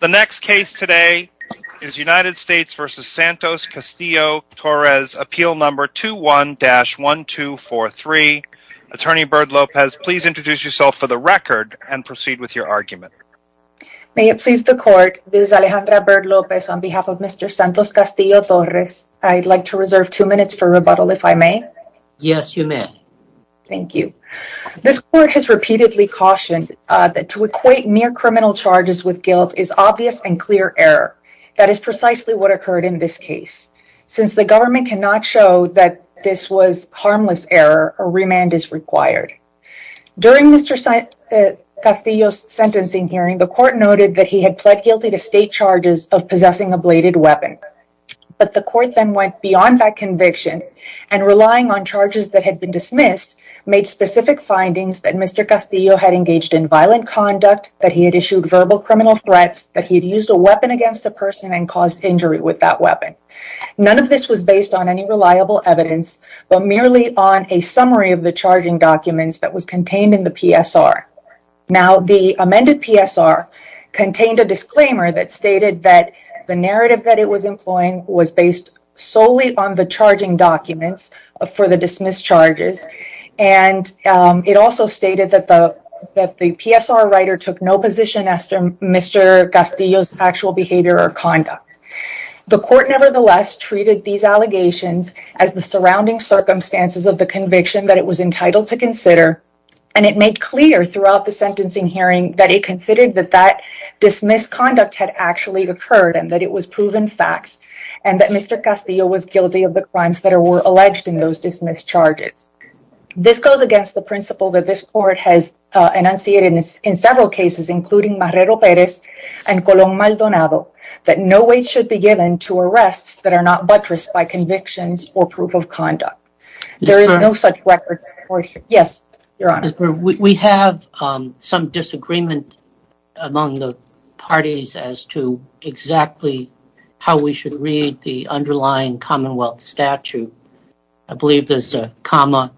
The next case today is United States v. Santos Castillo-Torres, Appeal No. 21-1243. Attorney Bird Lopez, please introduce yourself for the record and proceed with your argument. May it please the Court, this is Alejandra Bird Lopez on behalf of Mr. Santos Castillo-Torres. I'd like to reserve two minutes for rebuttal, if I may. Yes, you may. Thank you. This Court has repeatedly cautioned that to equate near criminal charges with guilt is obvious and clear error. That is precisely what occurred in this case. Since the government cannot show that this was harmless error, a remand is required. During Mr. Castillo's sentencing hearing, the Court noted that he had pled guilty to state charges of possessing a bladed weapon. But the Court then went beyond that conviction and, relying on charges that had been dismissed, made specific findings that Mr. Castillo had engaged in violent conduct, that he had issued verbal criminal threats, that he had used a weapon against a person and caused injury with that weapon. None of this was based on any reliable evidence, but merely on a summary of the charging documents that was contained in the PSR. Now, the amended PSR contained a disclaimer that stated that the narrative that it was employing was based solely on the charging documents for the dismissed charges, and it also stated that the PSR writer took no position as to Mr. Castillo's actual behavior or conduct. The Court, nevertheless, treated these allegations as the surrounding circumstances of the conviction that it was entitled to consider, and it made clear throughout the sentencing hearing that it considered that that dismissed conduct had actually occurred and that it was proven fact, and that Mr. Castillo was guilty of the crimes that were alleged in those dismissed charges. This goes against the principle that this Court has enunciated in several cases, including Marrero-Perez and Colón-Maldonado, that no weight should be given to arrests that are not buttressed by convictions or proof of conduct. There is no such record. Yes, Your Honor. We have some disagreement among the parties as to exactly how we should read the underlying Commonwealth statute. I believe there's a comma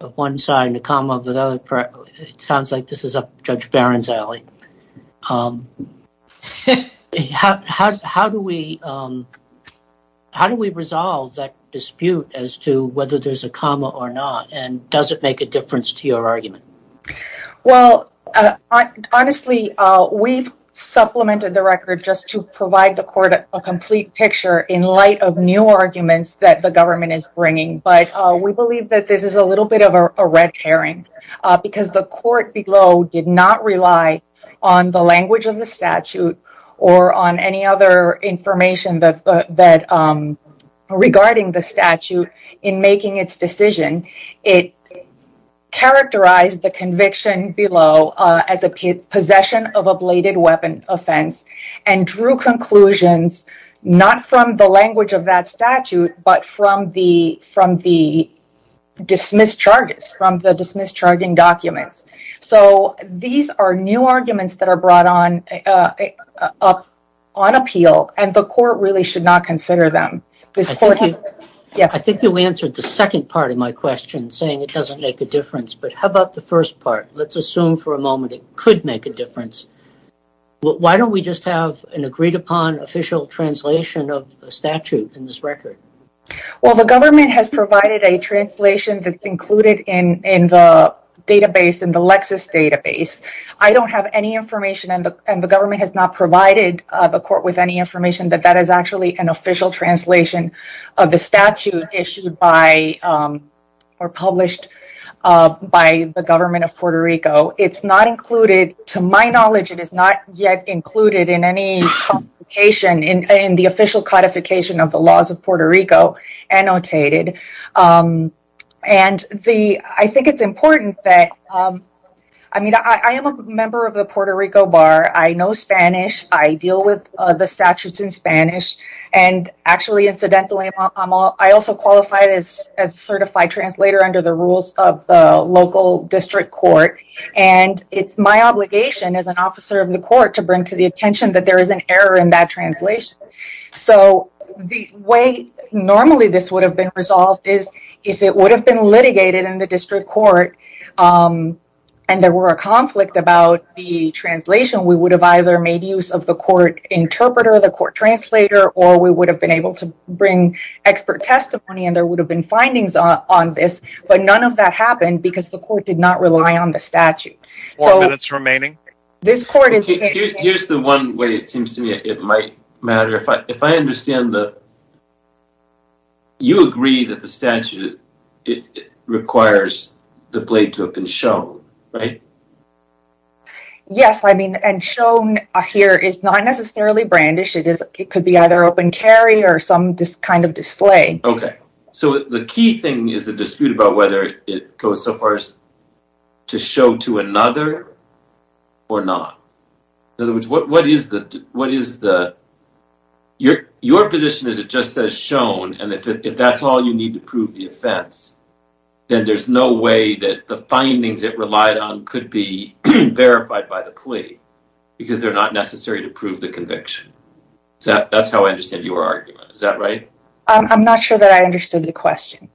of one side and a comma of the other. It sounds like this is up Judge Barron's alley. How do we resolve that dispute as to whether there's a comma or not, and does it make a difference to your argument? Well, honestly, we've supplemented the record just to provide the Court a complete picture in light of new arguments that the government is bringing, but we believe that this is a little bit of a red herring because the Court below did not rely on the language of the statute or on any other information regarding the statute in making its decision. It characterized the conviction below as a possession of a bladed weapon offense and drew conclusions not from the language of that statute, but from the dismissed charges, from the dismissed charging documents. So these are new arguments that are brought on appeal, and the Court really should not consider them. I think you answered the second part of my question saying it doesn't make a difference, but how about the first part? Let's assume for a moment it could make a difference. Why don't we just have an agreed-upon official translation of the statute in this record? Well, the government has provided a translation that's included in the Lexis database. I don't have any information, and the government has not provided the Court with any information that that is actually an official translation of the statute issued or published by the government of Puerto Rico. It's not included. To my knowledge, it is not yet included in any complication in the official codification of the laws of Puerto Rico annotated. And I think it's important that – I mean, I am a member of the Puerto Rico Bar. I know Spanish. I deal with the statutes in Spanish. And actually, incidentally, I also qualify as a certified translator under the rules of the local district court, and it's my obligation as an officer of the court to bring to the attention that there is an error in that translation. So the way normally this would have been resolved is if it would have been litigated in the district court and there were a conflict about the translation, we would have either made use of the court interpreter, the court translator, or we would have been able to bring expert testimony, and there would have been findings on this. But none of that happened because the court did not rely on the statute. Four minutes remaining. Here's the one way it seems to me it might matter. If I understand the – you agree that the statute requires the blade to have been shown, right? Yes, I mean, and shown here is not necessarily brandish. It could be either open carry or some kind of display. Okay. So the key thing is the dispute about whether it goes so far as to show to another or not. In other words, what is the – your position is it just says shown, and if that's all you need to prove the offense, then there's no way that the findings it relied on could be verified by the plea because they're not necessary to prove the conviction. That's how I understand your argument. Is that right? I'm not sure that I understood the question.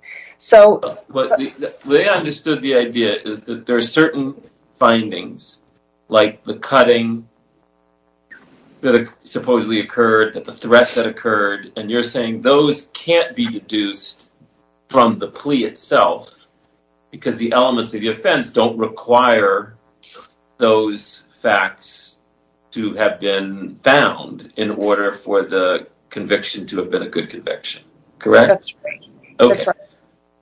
They understood the idea is that there are certain findings, like the cutting that supposedly occurred, the threat that occurred, and you're saying those can't be deduced from the plea itself because the elements of the offense don't require those facts to have been found in order for the conviction to have been a good conviction. Correct? That's right. Okay.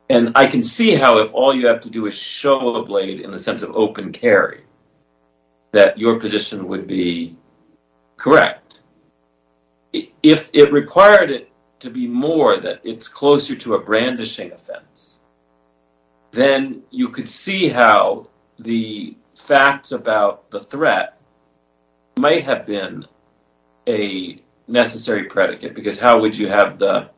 And I can see how if all you have to do is show a blade in the sense of open carry that your position would be correct. If it required it to be more that it's closer to a brandishing offense, then you could see how the facts about the threat might have been a necessary predicate because that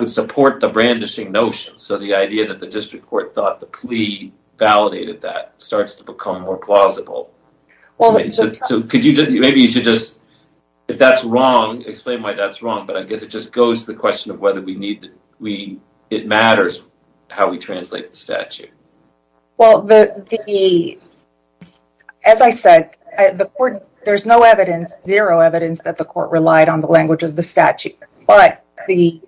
would support the brandishing notion. So the idea that the district court thought the plea validated that starts to become more plausible. Maybe you should just, if that's wrong, explain why that's wrong, but I guess it just goes to the question of whether it matters how we translate the statute. Well, as I said, there's no evidence, zero evidence that the court relied on the language of the statute, but the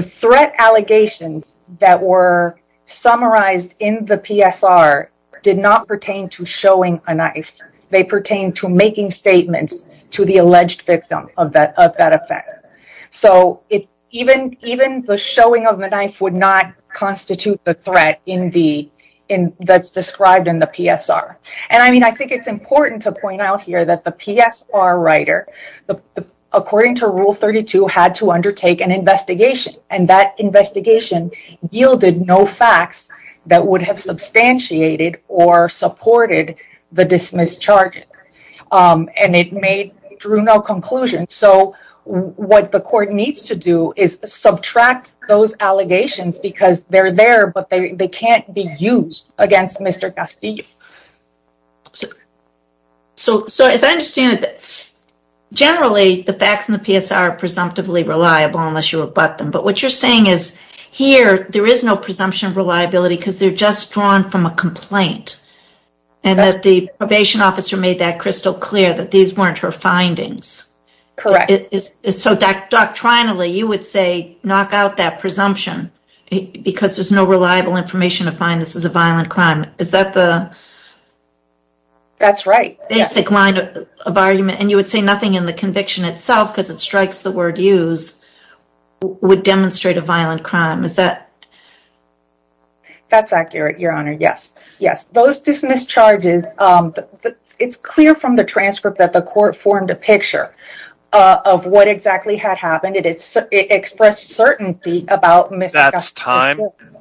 threat allegations that were summarized in the PSR did not pertain to showing a knife. They pertain to making statements to the alleged victim of that effect. So even the showing of the knife would not constitute the threat that's described in the PSR. And I mean, I think it's important to point out here that the PSR writer, according to Rule 32, had to undertake an investigation and that investigation yielded no facts that would have substantiated or supported the dismissed charges. And it drew no conclusions. So what the court needs to do is subtract those allegations because they're there, but they can't be used against Mr. Castillo. So as I understand it, generally the facts in the PSR are presumptively reliable unless you abut them, but what you're saying is here there is no presumption of reliability because they're just drawn from a complaint and that the probation officer made that crystal clear that these weren't her findings. Correct. So doctrinally, you would say knock out that presumption because there's no reliable information to find this is a violent crime. Is that the basic line of argument? And you would say nothing in the conviction itself because it strikes the word use would demonstrate a violent crime. That's accurate, Your Honor. Yes. Those dismissed charges, it's clear from the transcript that the court formed a picture of what exactly had happened. It expressed certainty about Mr. Castillo. That's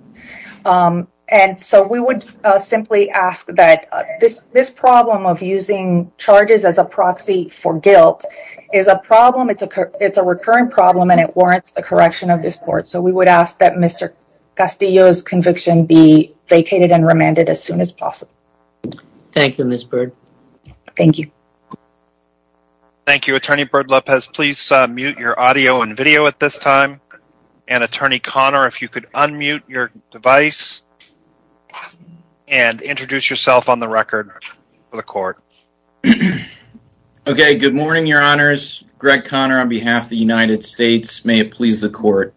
time. And so we would simply ask that this problem of using charges as a proxy for guilt is a problem. It's a recurring problem and it warrants the correction of this court. So we would ask that Mr. Castillo's conviction be vacated and remanded as soon as possible. Thank you, Ms. Byrd. Thank you. Thank you, Attorney Byrd-Lopez. Please mute your audio and video at this time. And Attorney Conner, if you could unmute your device and introduce yourself on the record for the court. Okay, good morning, Your Honors. Greg Conner on behalf of the United States. May it please the court.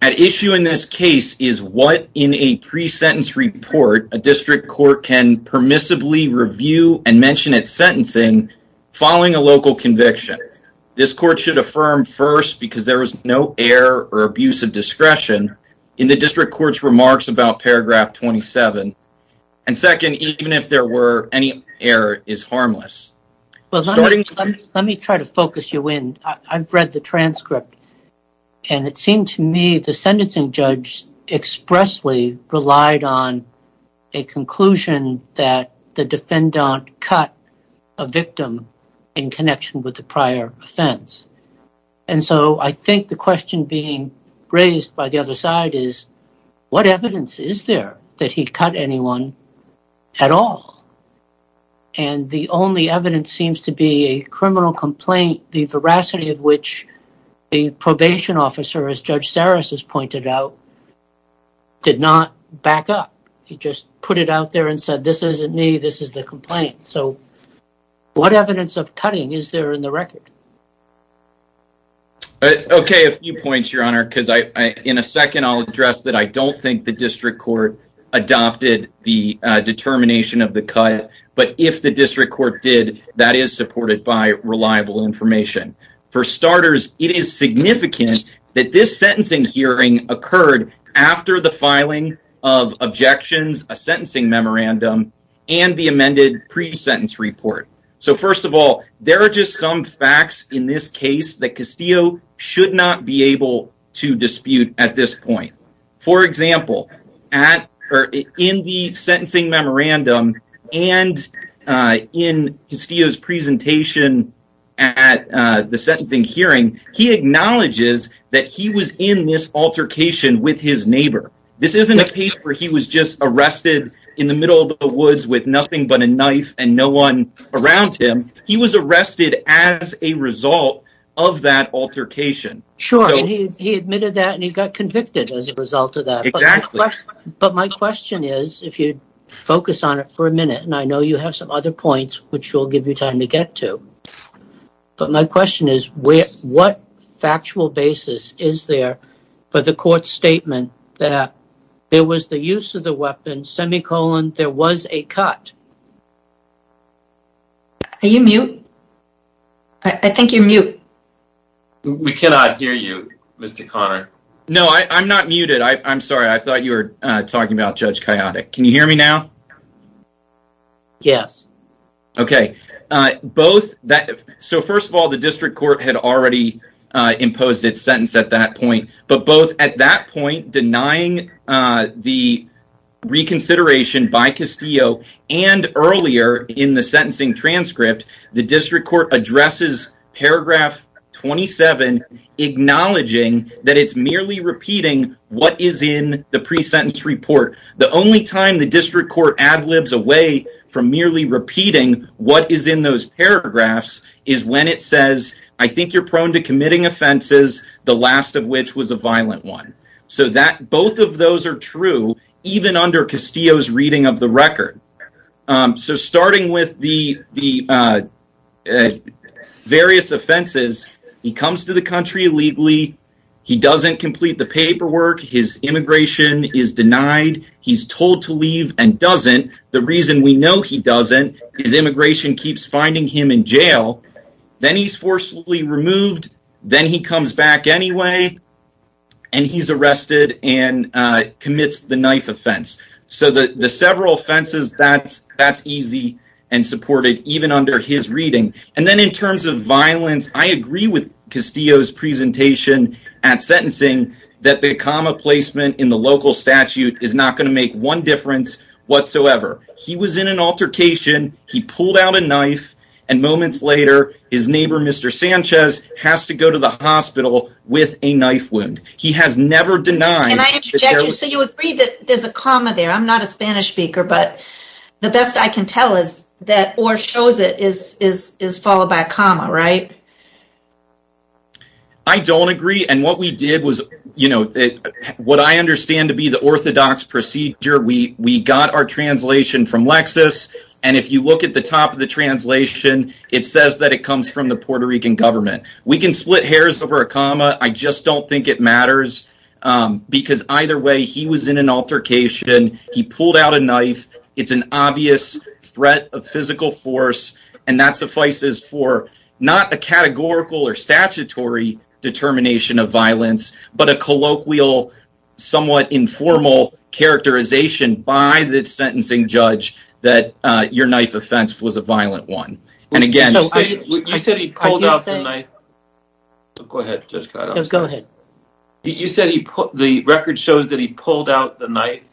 At issue in this case is what in a pre-sentence report a district court can permissibly review and mention its sentencing following a local conviction. This court should affirm first because there was no error or abuse of discretion in the district court's remarks about paragraph 27. And second, even if there were any error is harmless. Let me try to focus you in. I've read the transcript. And it seemed to me the sentencing judge expressly relied on a conclusion that the defendant cut a victim in connection with the prior offense. And so I think the question being raised by the other side is, what evidence is there that he cut anyone at all? And the only evidence seems to be a criminal complaint, the veracity of which the probation officer, as Judge Sarris has pointed out, did not back up. He just put it out there and said, this isn't me. This is the complaint. So what evidence of cutting is there in the record? OK, a few points, Your Honor, because in a second, I'll address that. I don't think the district court adopted the determination of the cut. But if the district court did, that is supported by reliable information. For starters, it is significant that this sentencing hearing occurred after the filing of objections, a sentencing memorandum and the amended pre-sentence report. So, first of all, there are just some facts in this case that Castillo should not be able to dispute at this point. For example, in the sentencing memorandum and in Castillo's presentation at the sentencing hearing, he acknowledges that he was in this altercation with his neighbor. This isn't a case where he was just arrested in the middle of the woods with nothing but a knife and no one around him. He was arrested as a result of that altercation. Sure, he admitted that and he got convicted as a result of that. Exactly. But my question is, if you focus on it for a minute, and I know you have some other points, which we'll give you time to get to. But my question is, what factual basis is there for the court's statement that there was the use of the weapon, semicolon, there was a cut? We cannot hear you, Mr. Conner. No, I'm not muted. I'm sorry. I thought you were talking about Judge Kiotik. Can you hear me now? Yes. First of all, the district court had already imposed its sentence at that point. But both at that point, denying the reconsideration by Castillo and earlier in the sentencing transcript, the district court addresses paragraph 27, acknowledging that it's merely repeating what is in the pre-sentence report. The only time the district court ad-libs away from merely repeating what is in those paragraphs is when it says, I think you're prone to committing offenses, the last of which was a violent one. So both of those are true, even under Castillo's reading of the record. So starting with the various offenses, he comes to the country illegally, he doesn't complete the paperwork, his immigration is denied, he's told to leave and doesn't. The reason we know he doesn't is immigration keeps finding him in jail. Then he's forcefully removed, then he comes back anyway, and he's arrested and commits the knife offense. So the several offenses, that's easy and supported, even under his reading. And then in terms of violence, I agree with Castillo's presentation at sentencing that the comma placement in the local statute is not going to make one difference whatsoever. He was in an altercation, he pulled out a knife, and moments later, his neighbor, Mr. Sanchez, has to go to the hospital with a knife wound. So you agree that there's a comma there, I'm not a Spanish speaker, but the best I can tell is that OR shows it is followed by a comma, right? I don't agree, and what I understand to be the orthodox procedure, we got our translation from Lexis, and if you look at the top of the translation, it says that it comes from the Puerto Rican government. We can split hairs over a comma, I just don't think it matters, because either way, he was in an altercation, he pulled out a knife, it's an obvious threat of physical force, and that suffices for not a categorical or statutory determination of violence, but a colloquial, somewhat informal characterization by the sentencing judge that your knife offense was a violent one. You said he pulled out the knife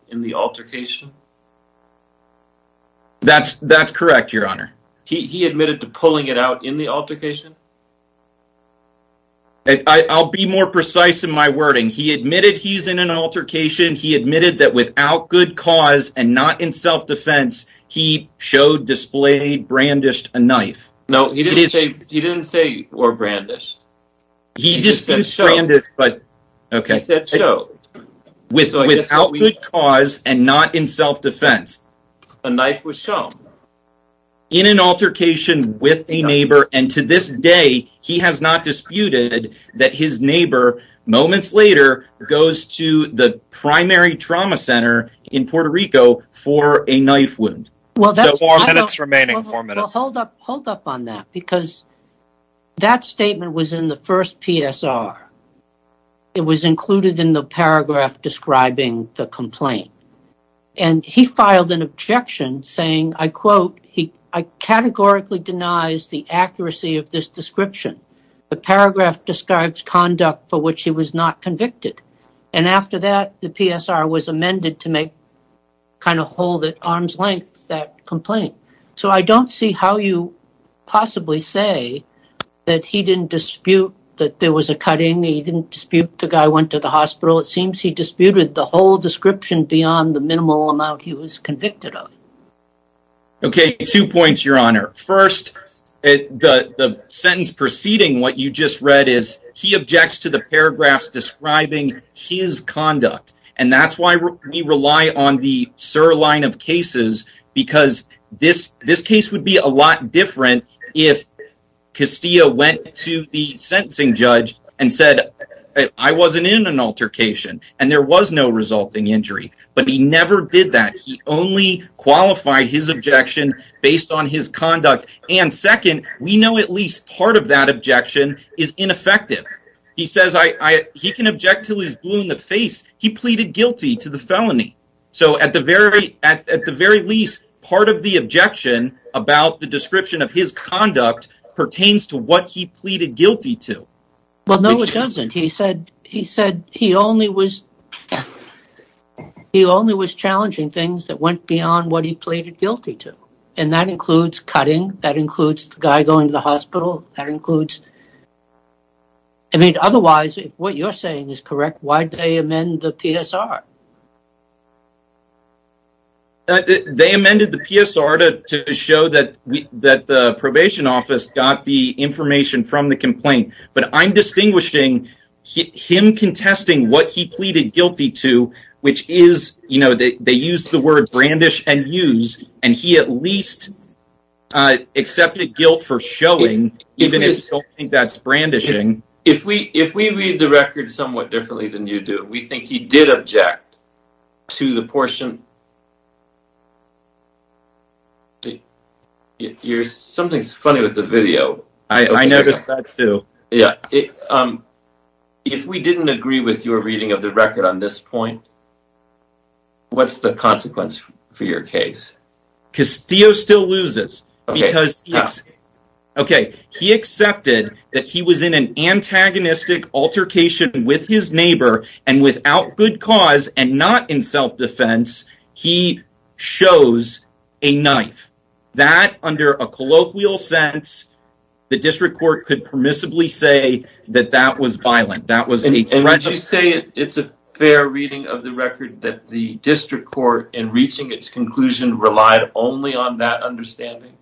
in the altercation? That's correct, your honor. He admitted to pulling it out in the altercation? I'll be more precise in my wording, he admitted he's in an altercation, he admitted that without good cause and not in self-defense, he showed, displayed, brandished a knife. No, he didn't say, or brandished. He disputed brandished, but, okay. He said so. Without good cause and not in self-defense. A knife was shown. In an altercation with a neighbor, and to this day, he has not disputed that his neighbor, moments later, goes to the primary trauma center in Puerto Rico for a knife wound. Four minutes remaining. Hold up on that, because that statement was in the first PSR. It was included in the paragraph describing the complaint. And he filed an objection saying, I quote, he categorically denies the accuracy of this description. The paragraph describes conduct for which he was not convicted. And after that, the PSR was amended to make, kind of hold at arm's length that complaint. So I don't see how you possibly say that he didn't dispute that there was a cutting, he didn't dispute the guy went to the hospital. It seems he disputed the whole description beyond the minimal amount he was convicted of. Okay, two points, Your Honor. First, the sentence preceding what you just read is he objects to the paragraphs describing his conduct. And that's why we rely on the SIR line of cases, because this case would be a lot different if Castillo went to the sentencing judge and said, I wasn't in an altercation, and there was no resulting injury. But he never did that. He only qualified his objection based on his conduct. And second, we know at least part of that objection is ineffective. He says he can object till he's blue in the face. He pleaded guilty to the felony. So at the very least, part of the objection about the description of his conduct pertains to what he pleaded guilty to. Well, no, it doesn't. He said he only was challenging things that went beyond what he pleaded guilty to. And that includes cutting. That includes the guy going to the hospital. I mean, otherwise, if what you're saying is correct, why did they amend the PSR? They amended the PSR to show that the probation office got the information from the complaint. But I'm distinguishing him contesting what he pleaded guilty to, which is, you know, they use the word brandish and use. And he at least accepted guilt for showing, even if you don't think that's brandishing. If we read the record somewhat differently than you do, we think he did object to the portion. Something's funny with the video. I noticed that, too. If we didn't agree with your reading of the record on this point, what's the consequence for your case? Castillo still loses because he accepted that he was in an antagonistic altercation with his neighbor. And without good cause and not in self-defense, he shows a knife. That, under a colloquial sense, the district court could permissibly say that that was violent. Would you say it's a fair reading of the record that the district court, in reaching its conclusion, relied only on that understanding?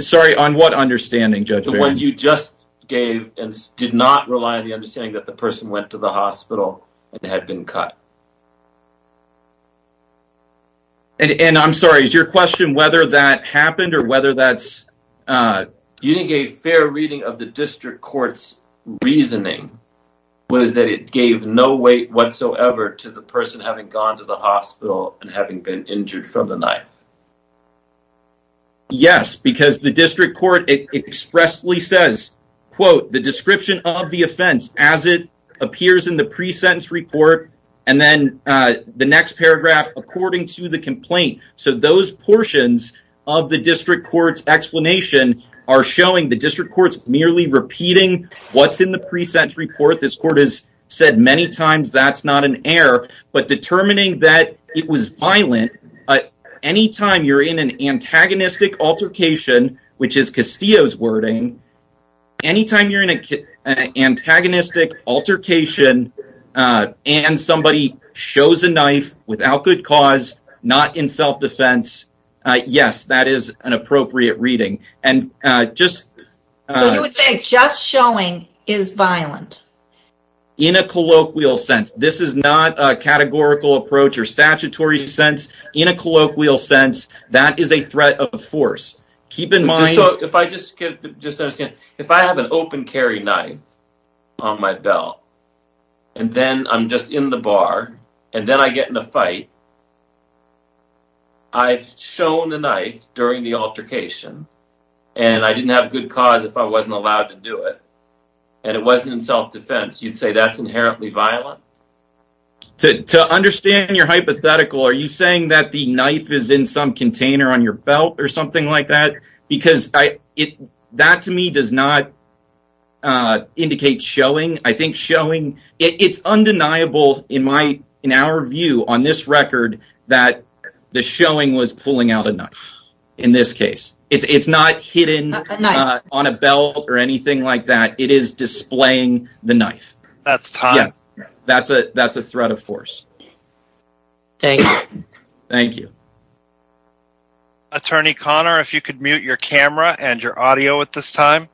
Sorry, on what understanding, Judge Barry? The one you just gave and did not rely on the understanding that the person went to the hospital and had been cut. And I'm sorry, is your question whether that happened or whether that's... You think a fair reading of the district court's reasoning was that it gave no weight whatsoever to the person having gone to the hospital and having been injured from the knife? Yes, because the district court expressly says, quote, the description of the offense as it appears in the pre-sentence report, and then the next paragraph, according to the complaint. So those portions of the district court's explanation are showing the district court's merely repeating what's in the pre-sentence report. This court has said many times that's not an error. But determining that it was violent, anytime you're in an antagonistic altercation, which is Castillo's wording, anytime you're in an antagonistic altercation and somebody shows a knife without good cause, not in self-defense, yes, that is an appropriate reading. So you would say just showing is violent? In a colloquial sense, this is not a categorical approach or statutory sense. In a colloquial sense, that is a threat of force. If I have an open carry knife on my belt, and then I'm just in the bar, and then I get in a fight, I've shown the knife during the altercation, and I didn't have good cause if I wasn't allowed to do it, and it wasn't in self-defense, you'd say that's inherently violent? To understand your hypothetical, are you saying that the knife is in some container on your belt or something like that? Because that to me does not indicate showing. I think showing, it's undeniable in our view on this record that the showing was pulling out a knife in this case. It's not hidden on a belt or anything like that. It is displaying the knife. That's time. That's a threat of force. Thank you. Thank you. Attorney Conner, if you could mute your camera and your audio at this time.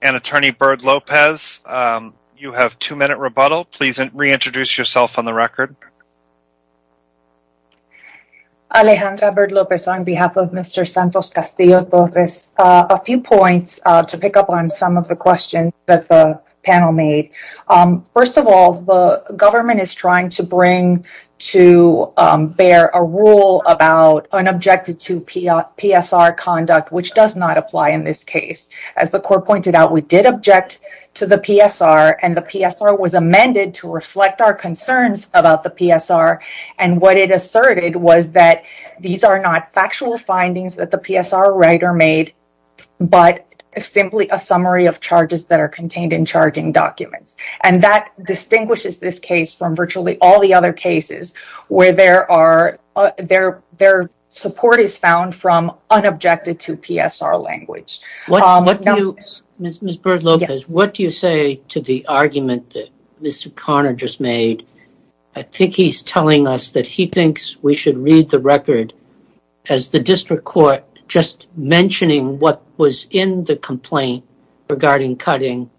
And Attorney Byrd-Lopez, you have two minute rebuttal. Please reintroduce yourself on the record. Alejandra Byrd-Lopez on behalf of Mr. Santos Castillo-Torres. A few points to pick up on some of the questions that the panel made. First of all, the government is trying to bring to bear a rule about unobjected to PSR conduct, which does not apply in this case. As the court pointed out, we did object to the PSR, and the PSR was amended to reflect our concerns about the PSR. And what it asserted was that these are not factual findings that the PSR writer made, but simply a summary of charges that are contained in charging documents. And that distinguishes this case from virtually all the other cases where their support is found from unobjected to PSR language. Ms. Byrd-Lopez, what do you say to the argument that Mr. Conner just made? I think he's telling us that he thinks we should read the record as the district court just mentioning what was in the complaint regarding cutting,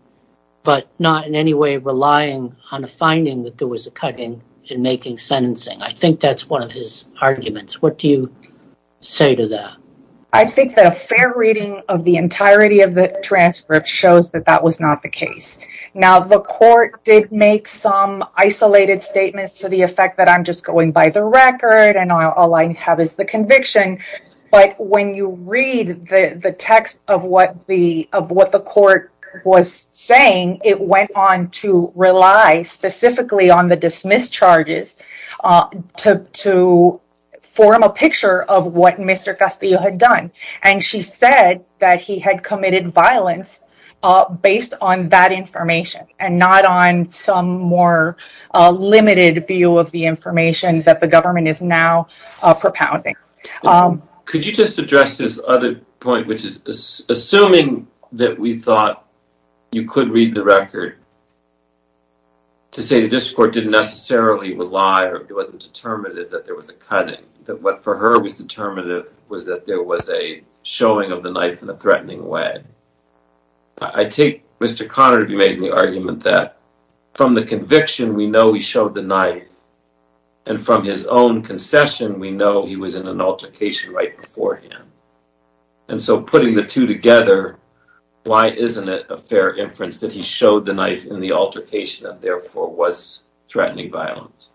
but not in any way relying on a finding that there was a cutting in making sentencing. I think that's one of his arguments. What do you say to that? I think that a fair reading of the entirety of the transcript shows that that was not the case. Now, the court did make some isolated statements to the effect that I'm just going by the record and all I have is the conviction. But when you read the text of what the court was saying, it went on to rely specifically on the dismissed charges to form a picture of what Mr. Castillo had done. And she said that he had committed violence based on that information and not on some more limited view of the information that the government is now propounding. Could you just address this other point, which is assuming that we thought you could read the record to say the district court didn't necessarily rely or it wasn't determinative that there was a cutting. That what for her was determinative was that there was a showing of the knife in a threatening way. I take Mr. Conner to be making the argument that from the conviction, we know he showed the knife. And from his own concession, we know he was in an altercation right beforehand. And so putting the two together, why isn't it a fair inference that he showed the knife in the altercation and therefore was threatening violence?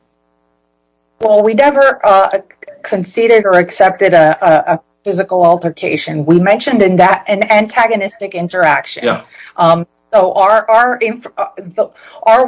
Well, we never conceded or accepted a physical altercation. We mentioned in that an antagonistic interaction. So our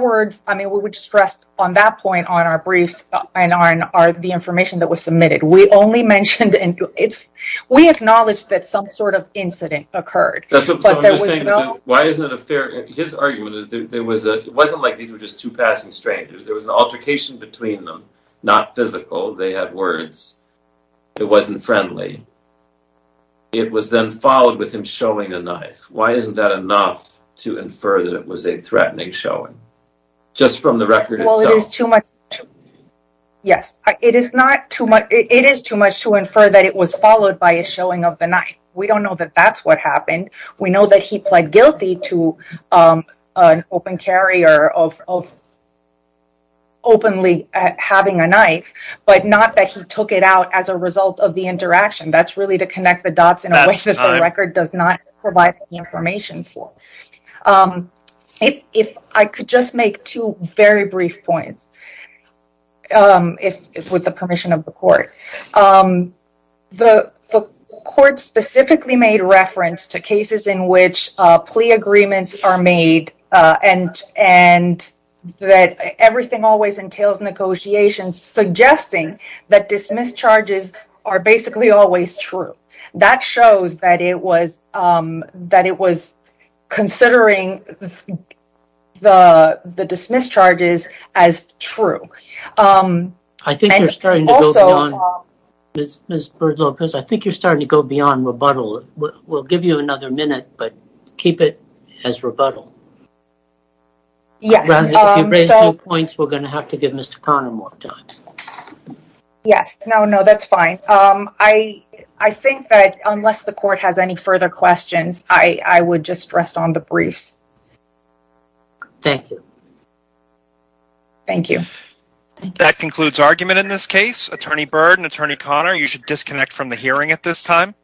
words, I mean, we would stress on that point on our briefs and on the information that was submitted. We only mentioned it. We acknowledge that some sort of incident occurred. That's what I'm saying. Why isn't it a fair? His argument is that it wasn't like these were just two passing strangers. There was an altercation between them, not physical. They had words. It wasn't friendly. It was then followed with him showing a knife. Why isn't that enough to infer that it was a threatening showing just from the record? Well, it is too much. Yes, it is not too much. It is too much to infer that it was followed by a showing of the knife. We don't know that that's what happened. We know that he pled guilty to an open carrier of openly having a knife, but not that he took it out as a result of the interaction. That's really to connect the dots in a way that the record does not provide the information for. If I could just make two very brief points with the permission of the court. The court specifically made reference to cases in which plea agreements are made and that everything always entails negotiations suggesting that dismiss charges are basically always true. That shows that it was considering the dismiss charges as true. I think you're starting to go beyond rebuttal. We'll give you another minute, but keep it as rebuttal. If you raise two points, we're going to have to give Mr. Connor more time. Yes. No, that's fine. I think that unless the court has any further questions, I would just rest on the briefs. Thank you. Thank you. That concludes argument in this case. Attorney Byrd and Attorney Connor, you should disconnect from the hearing at this time.